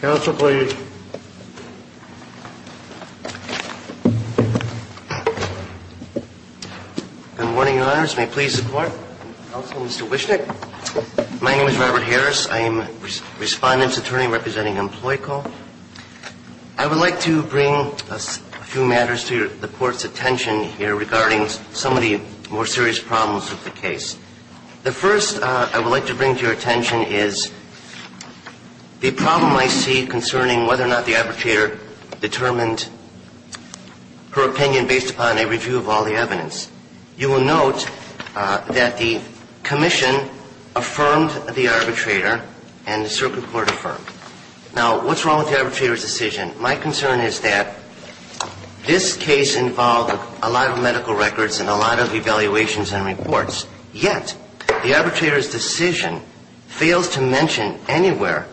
Council, please. Good morning, Your Honors. May it please the Court. Council, Mr. Wischnick. My name is Robert Harris. I am Respondent's Attorney representing Employ Call. I would like to bring a few matters to the Court's attention here regarding some of the more serious problems with the case. The first I would like to bring to your attention is the problem I see concerning whether or not the arbitrator determined her opinion based upon a review of all the evidence. You will note that the Commission affirmed the arbitrator and the Circuit Court affirmed. Now, what's wrong with the arbitrator's decision? My concern is that this case involved a lot of medical records and a lot of evaluations and reports, yet the arbitrator's decision fails to mention anywhere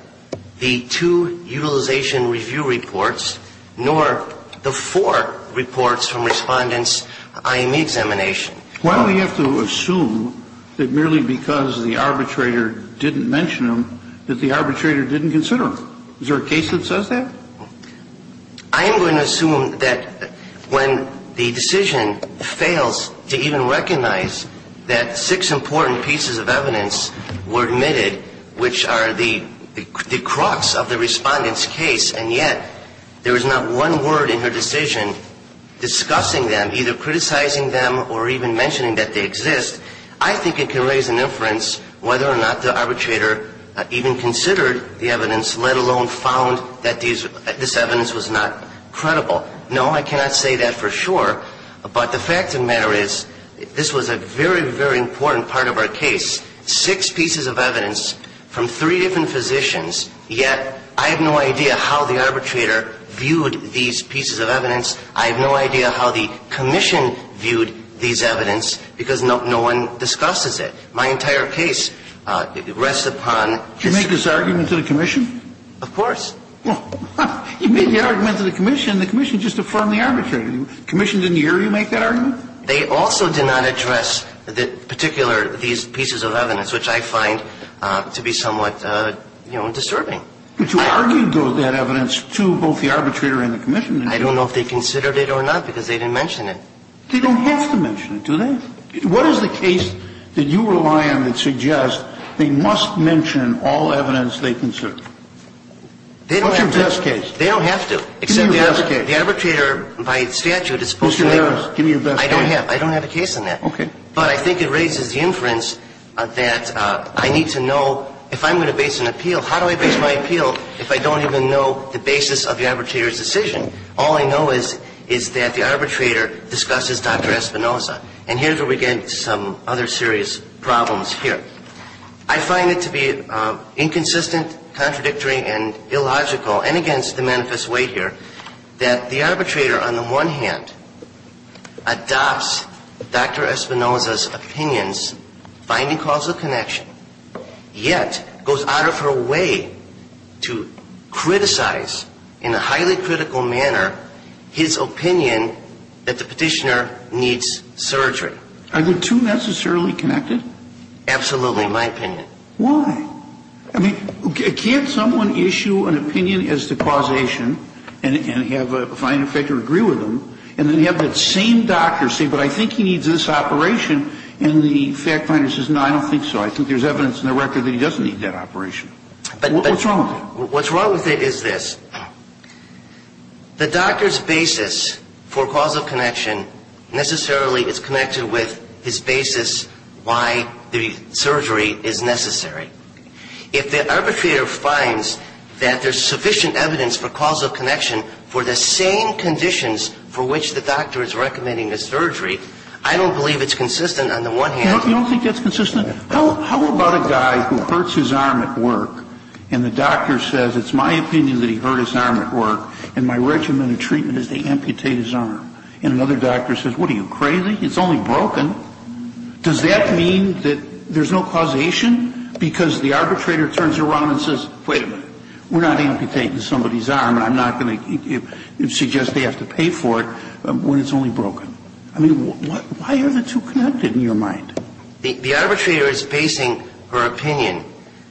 the two utilization review reports, nor the four reports from Respondent's IME examination. Why do we have to assume that merely because the arbitrator didn't mention them that the arbitrator didn't consider them? Is there a case that says that? I am going to assume that when the decision fails to even recognize that six important pieces of evidence were admitted, which are the crux of the Respondent's case, and yet there is not one word in her decision discussing them, either criticizing them or even mentioning that they exist, I think it can raise an inference whether or not the arbitrator even considered the evidence, let alone found that this evidence was not credible. No, I cannot say that for sure, but the fact of the matter is this was a very, very important part of our case. Six pieces of evidence from three different physicians, yet I have no idea how the arbitrator viewed these pieces of evidence. I have no idea how the commission viewed these evidence, because no one discusses it. My entire case rests upon the six pieces of evidence. Did you make this argument to the commission? Of course. Well, you made the argument to the commission, and the commission just affirmed the arbitrator. The commission didn't hear you make that argument? They also did not address the particular of these pieces of evidence, which I find to be somewhat, you know, disturbing. But you argued that evidence to both the arbitrator and the commission. I don't know if they considered it or not, because they didn't mention it. They don't have to mention it, do they? What is the case that you rely on that suggests they must mention all evidence they consider? They don't have to. What's your best case? They don't have to, except the arbitrator, by statute, is supposed to make it. I don't have. I don't have a case on that. Okay. But I think it raises the inference that I need to know, if I'm going to base an appeal, how do I base my appeal if I don't even know the basis of the arbitrator's decision? All I know is that the arbitrator discusses Dr. Espinoza. And here's where we get into some other serious problems here. I find it to be inconsistent, contradictory, and illogical, and against the manifest weight here, that the arbitrator, on the one hand, adopts Dr. Espinoza's opinions, finding causal connection, yet goes out of her way to criticize, in a highly critical manner, his opinion that the Petitioner needs surgery. Are the two necessarily connected? Absolutely, in my opinion. Why? I mean, can't someone issue an opinion as to causation, and have a fine effect or agree with them, and then have that same doctor say, but I think he needs this operation, and the fact finder says, no, I don't think so, I think there's evidence in the record that he doesn't need that operation. What's wrong with it? What's wrong with it is this. The doctor's basis for causal connection necessarily is connected with his basis for the argument that the Petitioner needs surgery. If the arbitrator finds that there's sufficient evidence for causal connection for the same conditions for which the doctor is recommending the surgery, I don't believe it's consistent on the one hand. You don't think that's consistent? How about a guy who hurts his arm at work, and the doctor says, it's my opinion that he hurt his arm at work, and my regimen of treatment is to amputate his arm. And another doctor says, what, are you crazy? It's only broken. Does that mean that there's no causation? Because the arbitrator turns around and says, wait a minute, we're not amputating somebody's arm, and I'm not going to suggest they have to pay for it when it's only broken. I mean, why are the two connected in your mind? The arbitrator is basing her opinion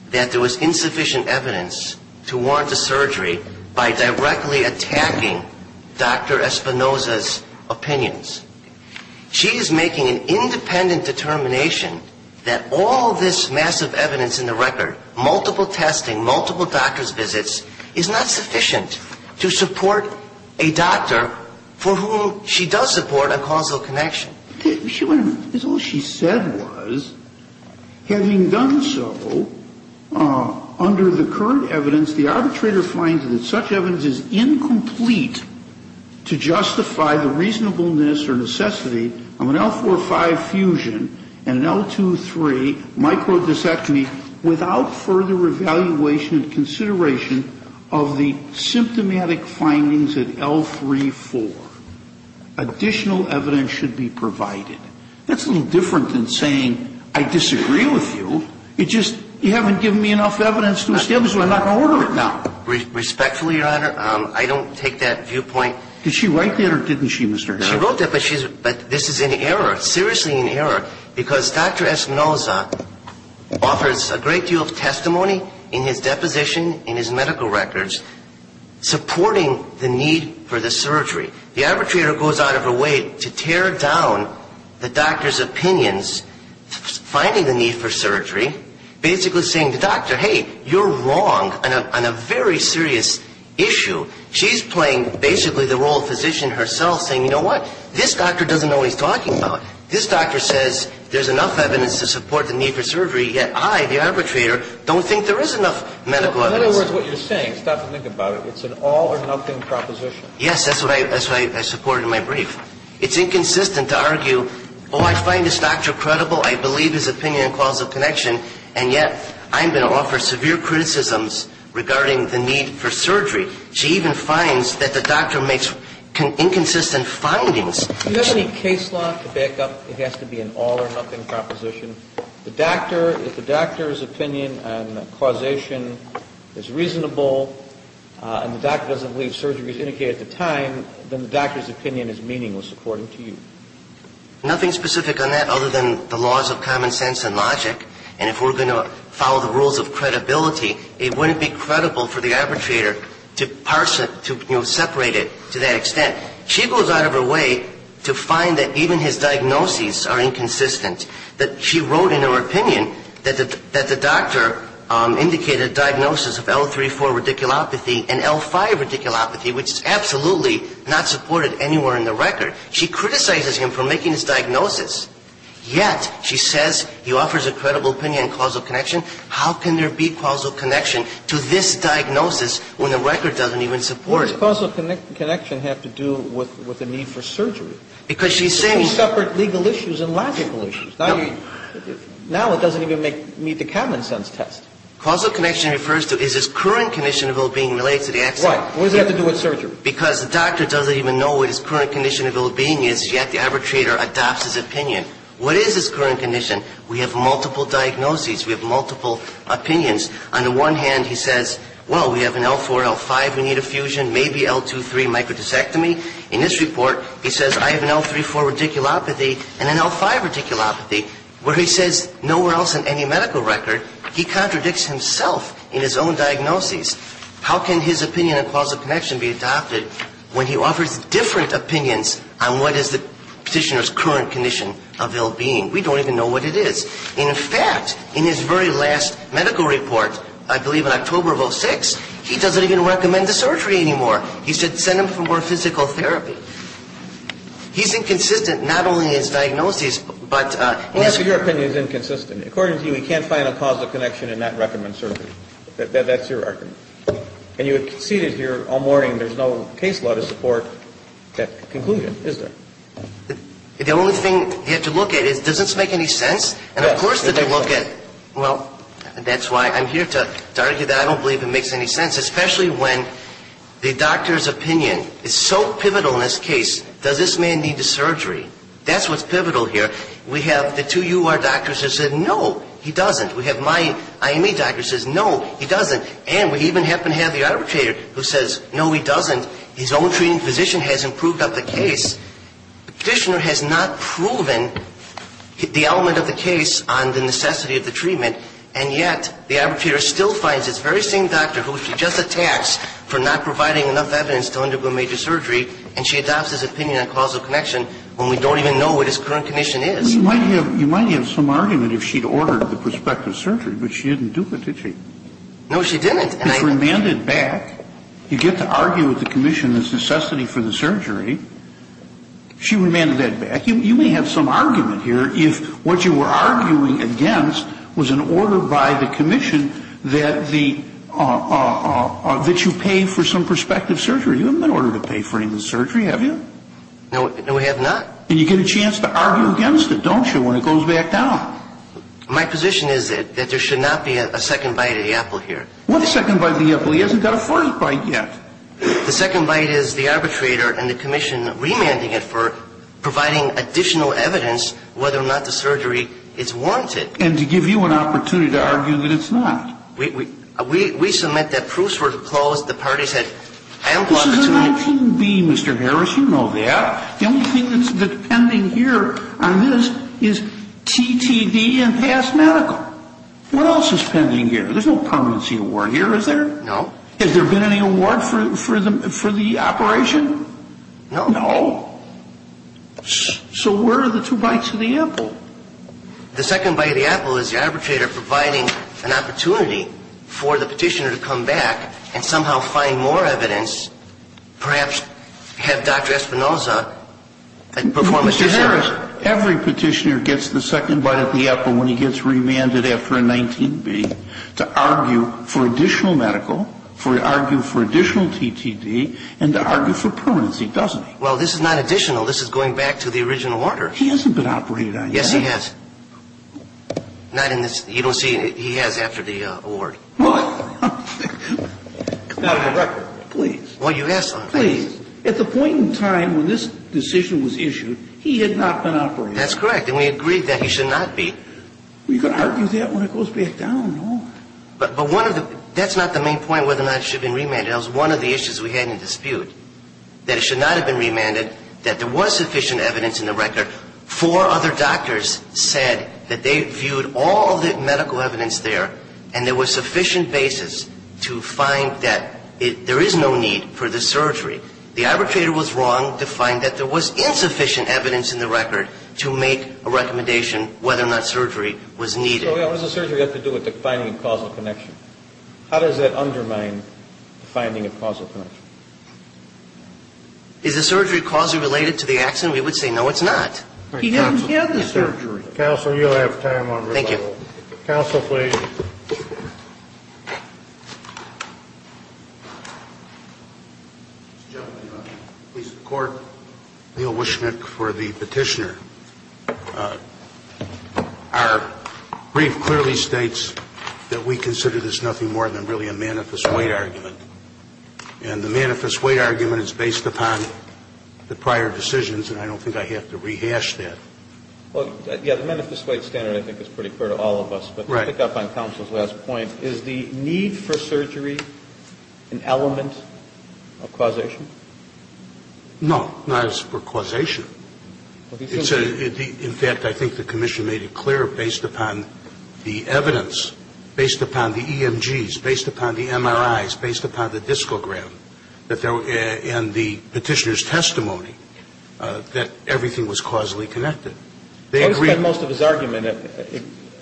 that there was insufficient evidence to warrant the surgery by directly attacking Dr. Espinoza's opinions. She is making an independent determination that all this massive evidence in the record, multiple testing, multiple doctor's visits, is not sufficient to support a doctor for whom she does support a causal connection. All she said was, having done so, under the current evidence, the arbitrator finds that such evidence is incomplete to justify the reasonableness or necessity of an L-4-5 fusion and an L-2-3 microdiscectomy without further evaluation and consideration of the symptomatic findings at L-3-4. She's saying that additional evidence should be provided. That's a little different than saying, I disagree with you, you just, you haven't given me enough evidence to establish, so I'm not going to order it now. Respectfully, Your Honor, I don't take that viewpoint. Did she write that or didn't she, Mr. Hanna? She wrote that, but this is an error, seriously an error, because Dr. Espinoza offers a great deal of testimony in his deposition, in his medical records, supporting the need for the surgery. The arbitrator goes out of her way to tear down the doctor's opinions, finding the need for surgery, basically saying to the doctor, hey, you're wrong on a very serious issue. She's playing, basically, the role of physician herself, saying, you know what? This doctor doesn't know what he's talking about. This doctor says there's enough evidence to support the need for surgery, yet I, the arbitrator, don't think there is enough medical evidence. In other words, what you're saying, stop and think about it, it's an all or nothing proposition. Yes, that's what I supported in my brief. It's inconsistent to argue, oh, I find this doctor credible, I believe his opinion and causal connection, and yet I'm going to offer severe criticisms regarding the need for surgery. She even finds that the doctor makes inconsistent findings. Do you have any case law to back up it has to be an all or nothing proposition? The doctor, if the doctor's opinion on causation is reasonable, and the doctor doesn't believe surgery was indicated at the time, then the doctor's opinion is meaningless, according to you. Nothing specific on that, other than the laws of common sense and logic, and if we're going to follow the rules of credibility, it wouldn't be credible for the arbitrator to parse it, to separate it to that extent. She goes out of her way to find that even his diagnoses are inconsistent, that she wrote in her opinion that the doctor indicated a diagnosis of L-3-4 radiculopathy and L-5 radiculopathy, which is absolutely not supported anywhere in the record. She criticizes him for making this diagnosis, yet she says he offers a credible opinion and causal connection. How can there be causal connection to this diagnosis when the record doesn't even support it? What does causal connection have to do with the need for surgery? Because she's saying he suffered legal issues and logical issues. Now it doesn't even meet the common sense test. Causal connection refers to is his current condition of well-being related to the accident? Why? What does it have to do with surgery? Because the doctor doesn't even know what his current condition of well-being is, yet the arbitrator adopts his opinion. What is his current condition? We have multiple diagnoses. We have multiple opinions. On the one hand, he says, well, we have an L-4, L-5, we need a fusion, maybe L-2-3 microdiscectomy. In this report, he says I have an L-3-4 radiculopathy and an L-5 radiculopathy, where he says nowhere else in any medical record he contradicts himself in his own diagnosis. How can his opinion on causal connection be adopted when he offers different opinions on what is the petitioner's current condition of well-being? We don't even know what it is. In fact, in his very last medical report, I believe in October of 2006, he doesn't even recommend the surgery anymore. He said send him for more physical therapy. He's inconsistent, not only in his diagnosis, but in his career. Well, your opinion is inconsistent. According to you, he can't find a causal connection and not recommend surgery. That's your argument. And you have seated here all morning. There's no case law to support that conclusion, is there? The only thing you have to look at is does this make any sense? And of course, they look at, well, that's why I'm here to argue that I don't believe it makes any sense, especially when the doctor's opinion is so pivotal in this case. Does this man need the surgery? That's what's pivotal here. We have the two U.R. doctors who said no, he doesn't. We have my I.M.E. doctor who says no, he doesn't. And we even happen to have the arbitrator who says no, he doesn't. His own treating physician has improved up the case. The petitioner has not proven the element of the case on the necessity of the treatment, and yet the arbitrator still finds this very same doctor who she just attacks for not providing enough evidence to undergo major surgery, and she adopts his opinion on causal connection when we don't even know what his current condition is. You might have some argument if she'd ordered the prospective surgery, but she didn't do it, did she? No, she didn't. It's remanded back. You get to argue with the commission this necessity for the surgery. She remanded that back. You may have some argument here if what you were arguing against was an order by the commission that you pay for some prospective surgery. You haven't been ordered to pay for any of the surgery, have you? No, we have not. And you get a chance to argue against it, don't you, when it goes back down. My position is that there should not be a second bite of the apple here. What second bite of the apple? He hasn't got a first bite yet. The second bite is the arbitrator and the commission remanding it for providing additional evidence whether or not the surgery is warranted. And to give you an opportunity to argue that it's not. We submit that proofs were closed. The parties had ambushed. This is a 19B, Mr. Harris. You know that. The only thing that's pending here on this is TTD and past medical. What else is pending here? There's no permanency award here, is there? No. Has there been any award for the operation? No. No? So where are the two bites of the apple? The second bite of the apple is the arbitrator providing an opportunity for the petitioner to come back and somehow find more evidence, perhaps have Dr. Espinoza perform a surgery. Every petitioner gets the second bite of the apple when he gets remanded after a 19B to argue for additional medical, for argue for additional TTD, and to argue for permanency, doesn't he? Well, this is not additional. This is going back to the original order. He hasn't been operated on yet. Yes, he has. Not in this. You don't see it. He has after the award. Out of the record. Please. Well, you asked for it. Please. At the point in time when this decision was issued, he had not been operated. That's correct. And we agree that he should not be. We could argue that when it goes back down. No. But one of the, that's not the main point whether or not it should have been remanded. That was one of the issues we had in dispute, that it should not have been remanded, that there was sufficient evidence in the record. Four other doctors said that they viewed all the medical evidence there, and there was sufficient basis to find that there is no need for the surgery. The arbitrator was wrong to find that there was insufficient evidence in the record to make a recommendation whether or not surgery was needed. So what does the surgery have to do with the finding of causal connection? How does that undermine the finding of causal connection? Is the surgery causally related to the accident? We would say no, it's not. He didn't have the surgery. Counsel, you'll have time on rebuttal. Thank you. Counsel, please. Mr. Chairman, I'm pleased to report Neil Wischmick for the petitioner. Our brief clearly states that we consider this nothing more than really a manifest weight argument. And the manifest weight argument is based upon the prior decisions, and I don't think I have to rehash that. Well, yeah, the manifest weight standard I think is pretty clear to all of us, but to pick up on counsel's last point, is the need for surgery an element of causation? No, not as for causation. In fact, I think the commission made it clear based upon the evidence, based upon the EMGs, based upon the MRIs, based upon the discogram and the petitioner's testimony that everything was causally connected. I would spend most of his argument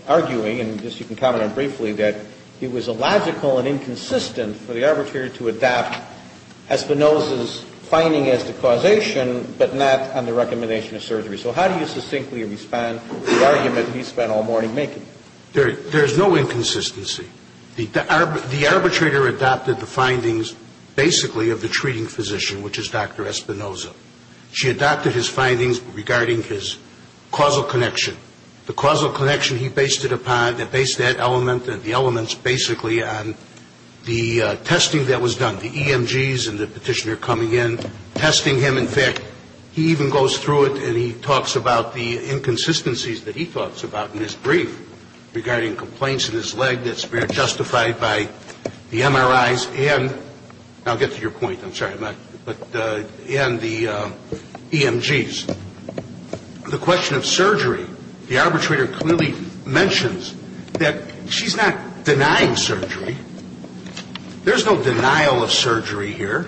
arguing, and you can comment on it briefly, that it was illogical and inconsistent for the arbitrator to adopt Espinoza's finding as the causation, but not on the recommendation of surgery. So how do you succinctly respond to the argument he spent all morning making? There is no inconsistency. The arbitrator adopted the findings basically of the treating physician, which is Dr. Espinoza. She adopted his findings regarding his causal connection. The causal connection he based it upon, that based that element and the elements basically on the testing that was done. The EMGs and the petitioner coming in, testing him. In fact, he even goes through it and he talks about the inconsistencies that he talks about in his brief regarding complaints in his leg that's been justified by the MRIs and, I'll get to your point, I'm sorry. But in the EMGs, the question of surgery, the arbitrator clearly mentions that she's not denying surgery. There's no denial of surgery here.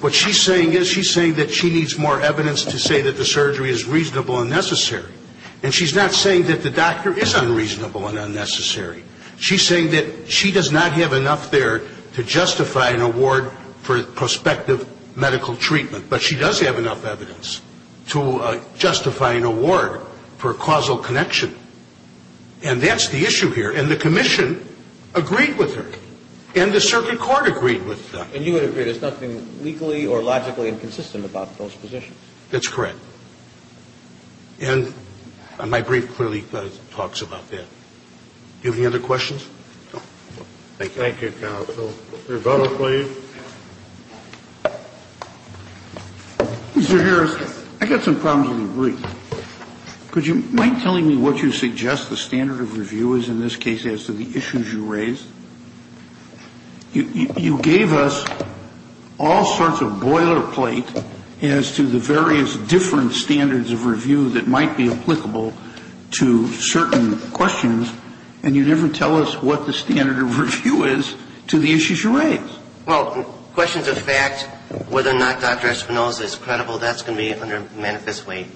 What she's saying is, she's saying that she needs more evidence to say that the surgery is reasonable and necessary. And she's not saying that the doctor is unreasonable and unnecessary. She's saying that she does not have enough there to justify an award for prospective medical treatment. But she does have enough evidence to justify an award for causal connection. And that's the issue here. And the commission agreed with her. And the circuit court agreed with them. And you would agree there's nothing legally or logically inconsistent about those positions? That's correct. And my brief clearly talks about that. Do you have any other questions? Thank you, counsel. Your vote, please. Mr. Harris, I got some problems with the brief. Could you mind telling me what you suggest the standard of review is in this case as to the issues you raised? You gave us all sorts of boilerplate as to the various different standards of review that might be applicable to certain questions. And you never tell us what the standard of review is to the issues you raised. Well, questions of fact, whether or not Dr. Espinoza is credible, that's going to be under manifest weight.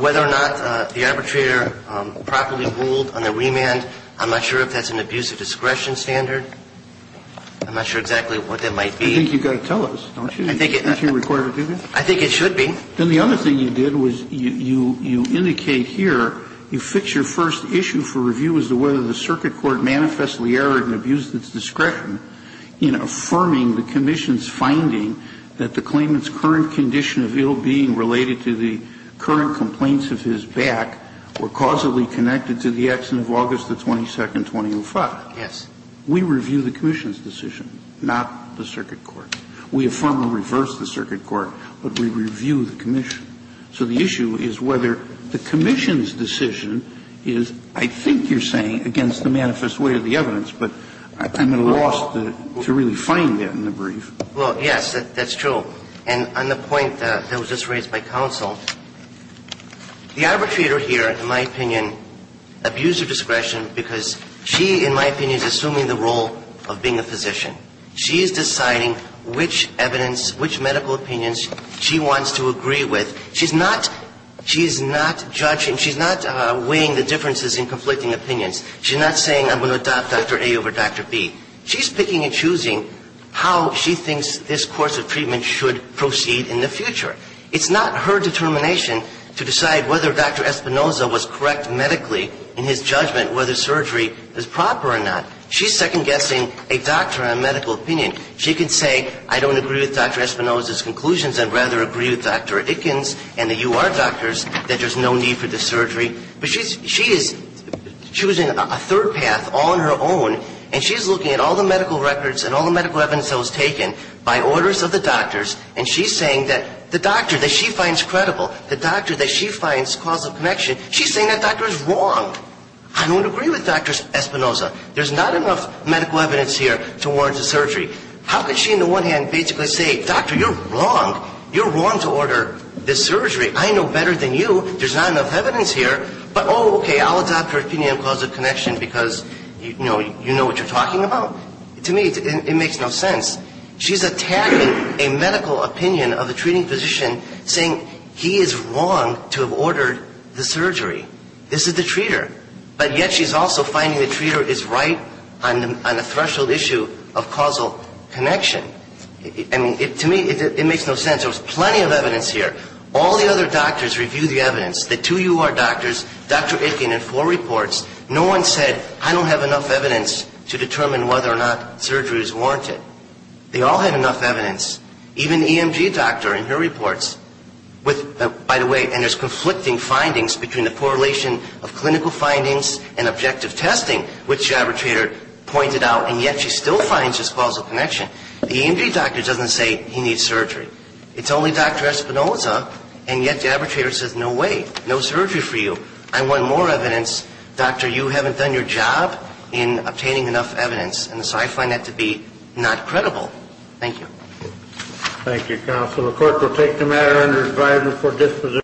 Whether or not the arbitrator properly ruled on the remand, I'm not sure if that's an abuse of discretion standard. I'm not sure exactly what that might be. I think you've got to tell us, don't you? I think it's going to be required to do that. I think it should be. Then the other thing you did was you indicate here, you fix your first issue for review as to whether the circuit court manifestly erred and abused its discretion in affirming the commission's finding that the claimant's current condition of ill-being related to the current complaints of his back were causally connected to the accident of August the 22nd, 2005. Yes. We review the commission's decision, not the circuit court. We affirm or reverse the circuit court, but we review the commission. So the issue is whether the commission's decision is, I think you're saying, against the manifest weight of the evidence, but I'm at a loss to really find that in the brief. Well, yes, that's true. And on the point that was just raised by counsel, the arbitrator here, in my opinion, abused her discretion because she, in my opinion, is assuming the role of being a physician. She is deciding which evidence, which medical opinions she wants to agree with. She's not judging. She's not weighing the differences in conflicting opinions. She's not saying, I'm going to adopt Dr. A over Dr. B. She's picking and choosing how she thinks this course of treatment should proceed in the future. It's not her determination to decide whether Dr. Espinoza was correct medically in his judgment whether surgery is proper or not. She's second-guessing a doctor and a medical opinion. She can say, I don't agree with Dr. Espinoza's conclusions. I'd rather agree with Dr. Ickens and the UR doctors that there's no need for this surgery. But she is choosing a third path all on her own, and she's looking at all the medical records and all the medical evidence that was taken by orders of the doctor that she finds credible, the doctor that she finds cause of connection. She's saying that doctor is wrong. I don't agree with Dr. Espinoza. There's not enough medical evidence here to warrant a surgery. How could she, on the one hand, basically say, doctor, you're wrong. You're wrong to order this surgery. I know better than you. There's not enough evidence here. But, oh, okay, I'll adopt her opinion cause of connection because, you know, you know what you're talking about. To me, it makes no sense. She's attacking a medical opinion of a treating physician saying he is wrong to have ordered the surgery. This is the treater. But yet she's also finding the treater is right on the threshold issue of causal connection. I mean, to me, it makes no sense. There was plenty of evidence here. All the other doctors reviewed the evidence, the two UR doctors, Dr. Ickens and four reports. No one said, I don't have enough evidence to determine whether or not surgery is warranted. They all had enough evidence. Even the EMG doctor in her reports with, by the way, and there's conflicting findings between the correlation of clinical findings and objective testing, which the arbitrator pointed out, and yet she still finds this causal connection. The EMG doctor doesn't say he needs surgery. It's only Dr. Espinoza, and yet the arbitrator says, no way, no surgery for you. I want more evidence. Doctor, you haven't done your job in obtaining enough evidence. And so I find that to be not credible. Thank you. Thank you, counsel. The court will take the matter under advisory for disposition.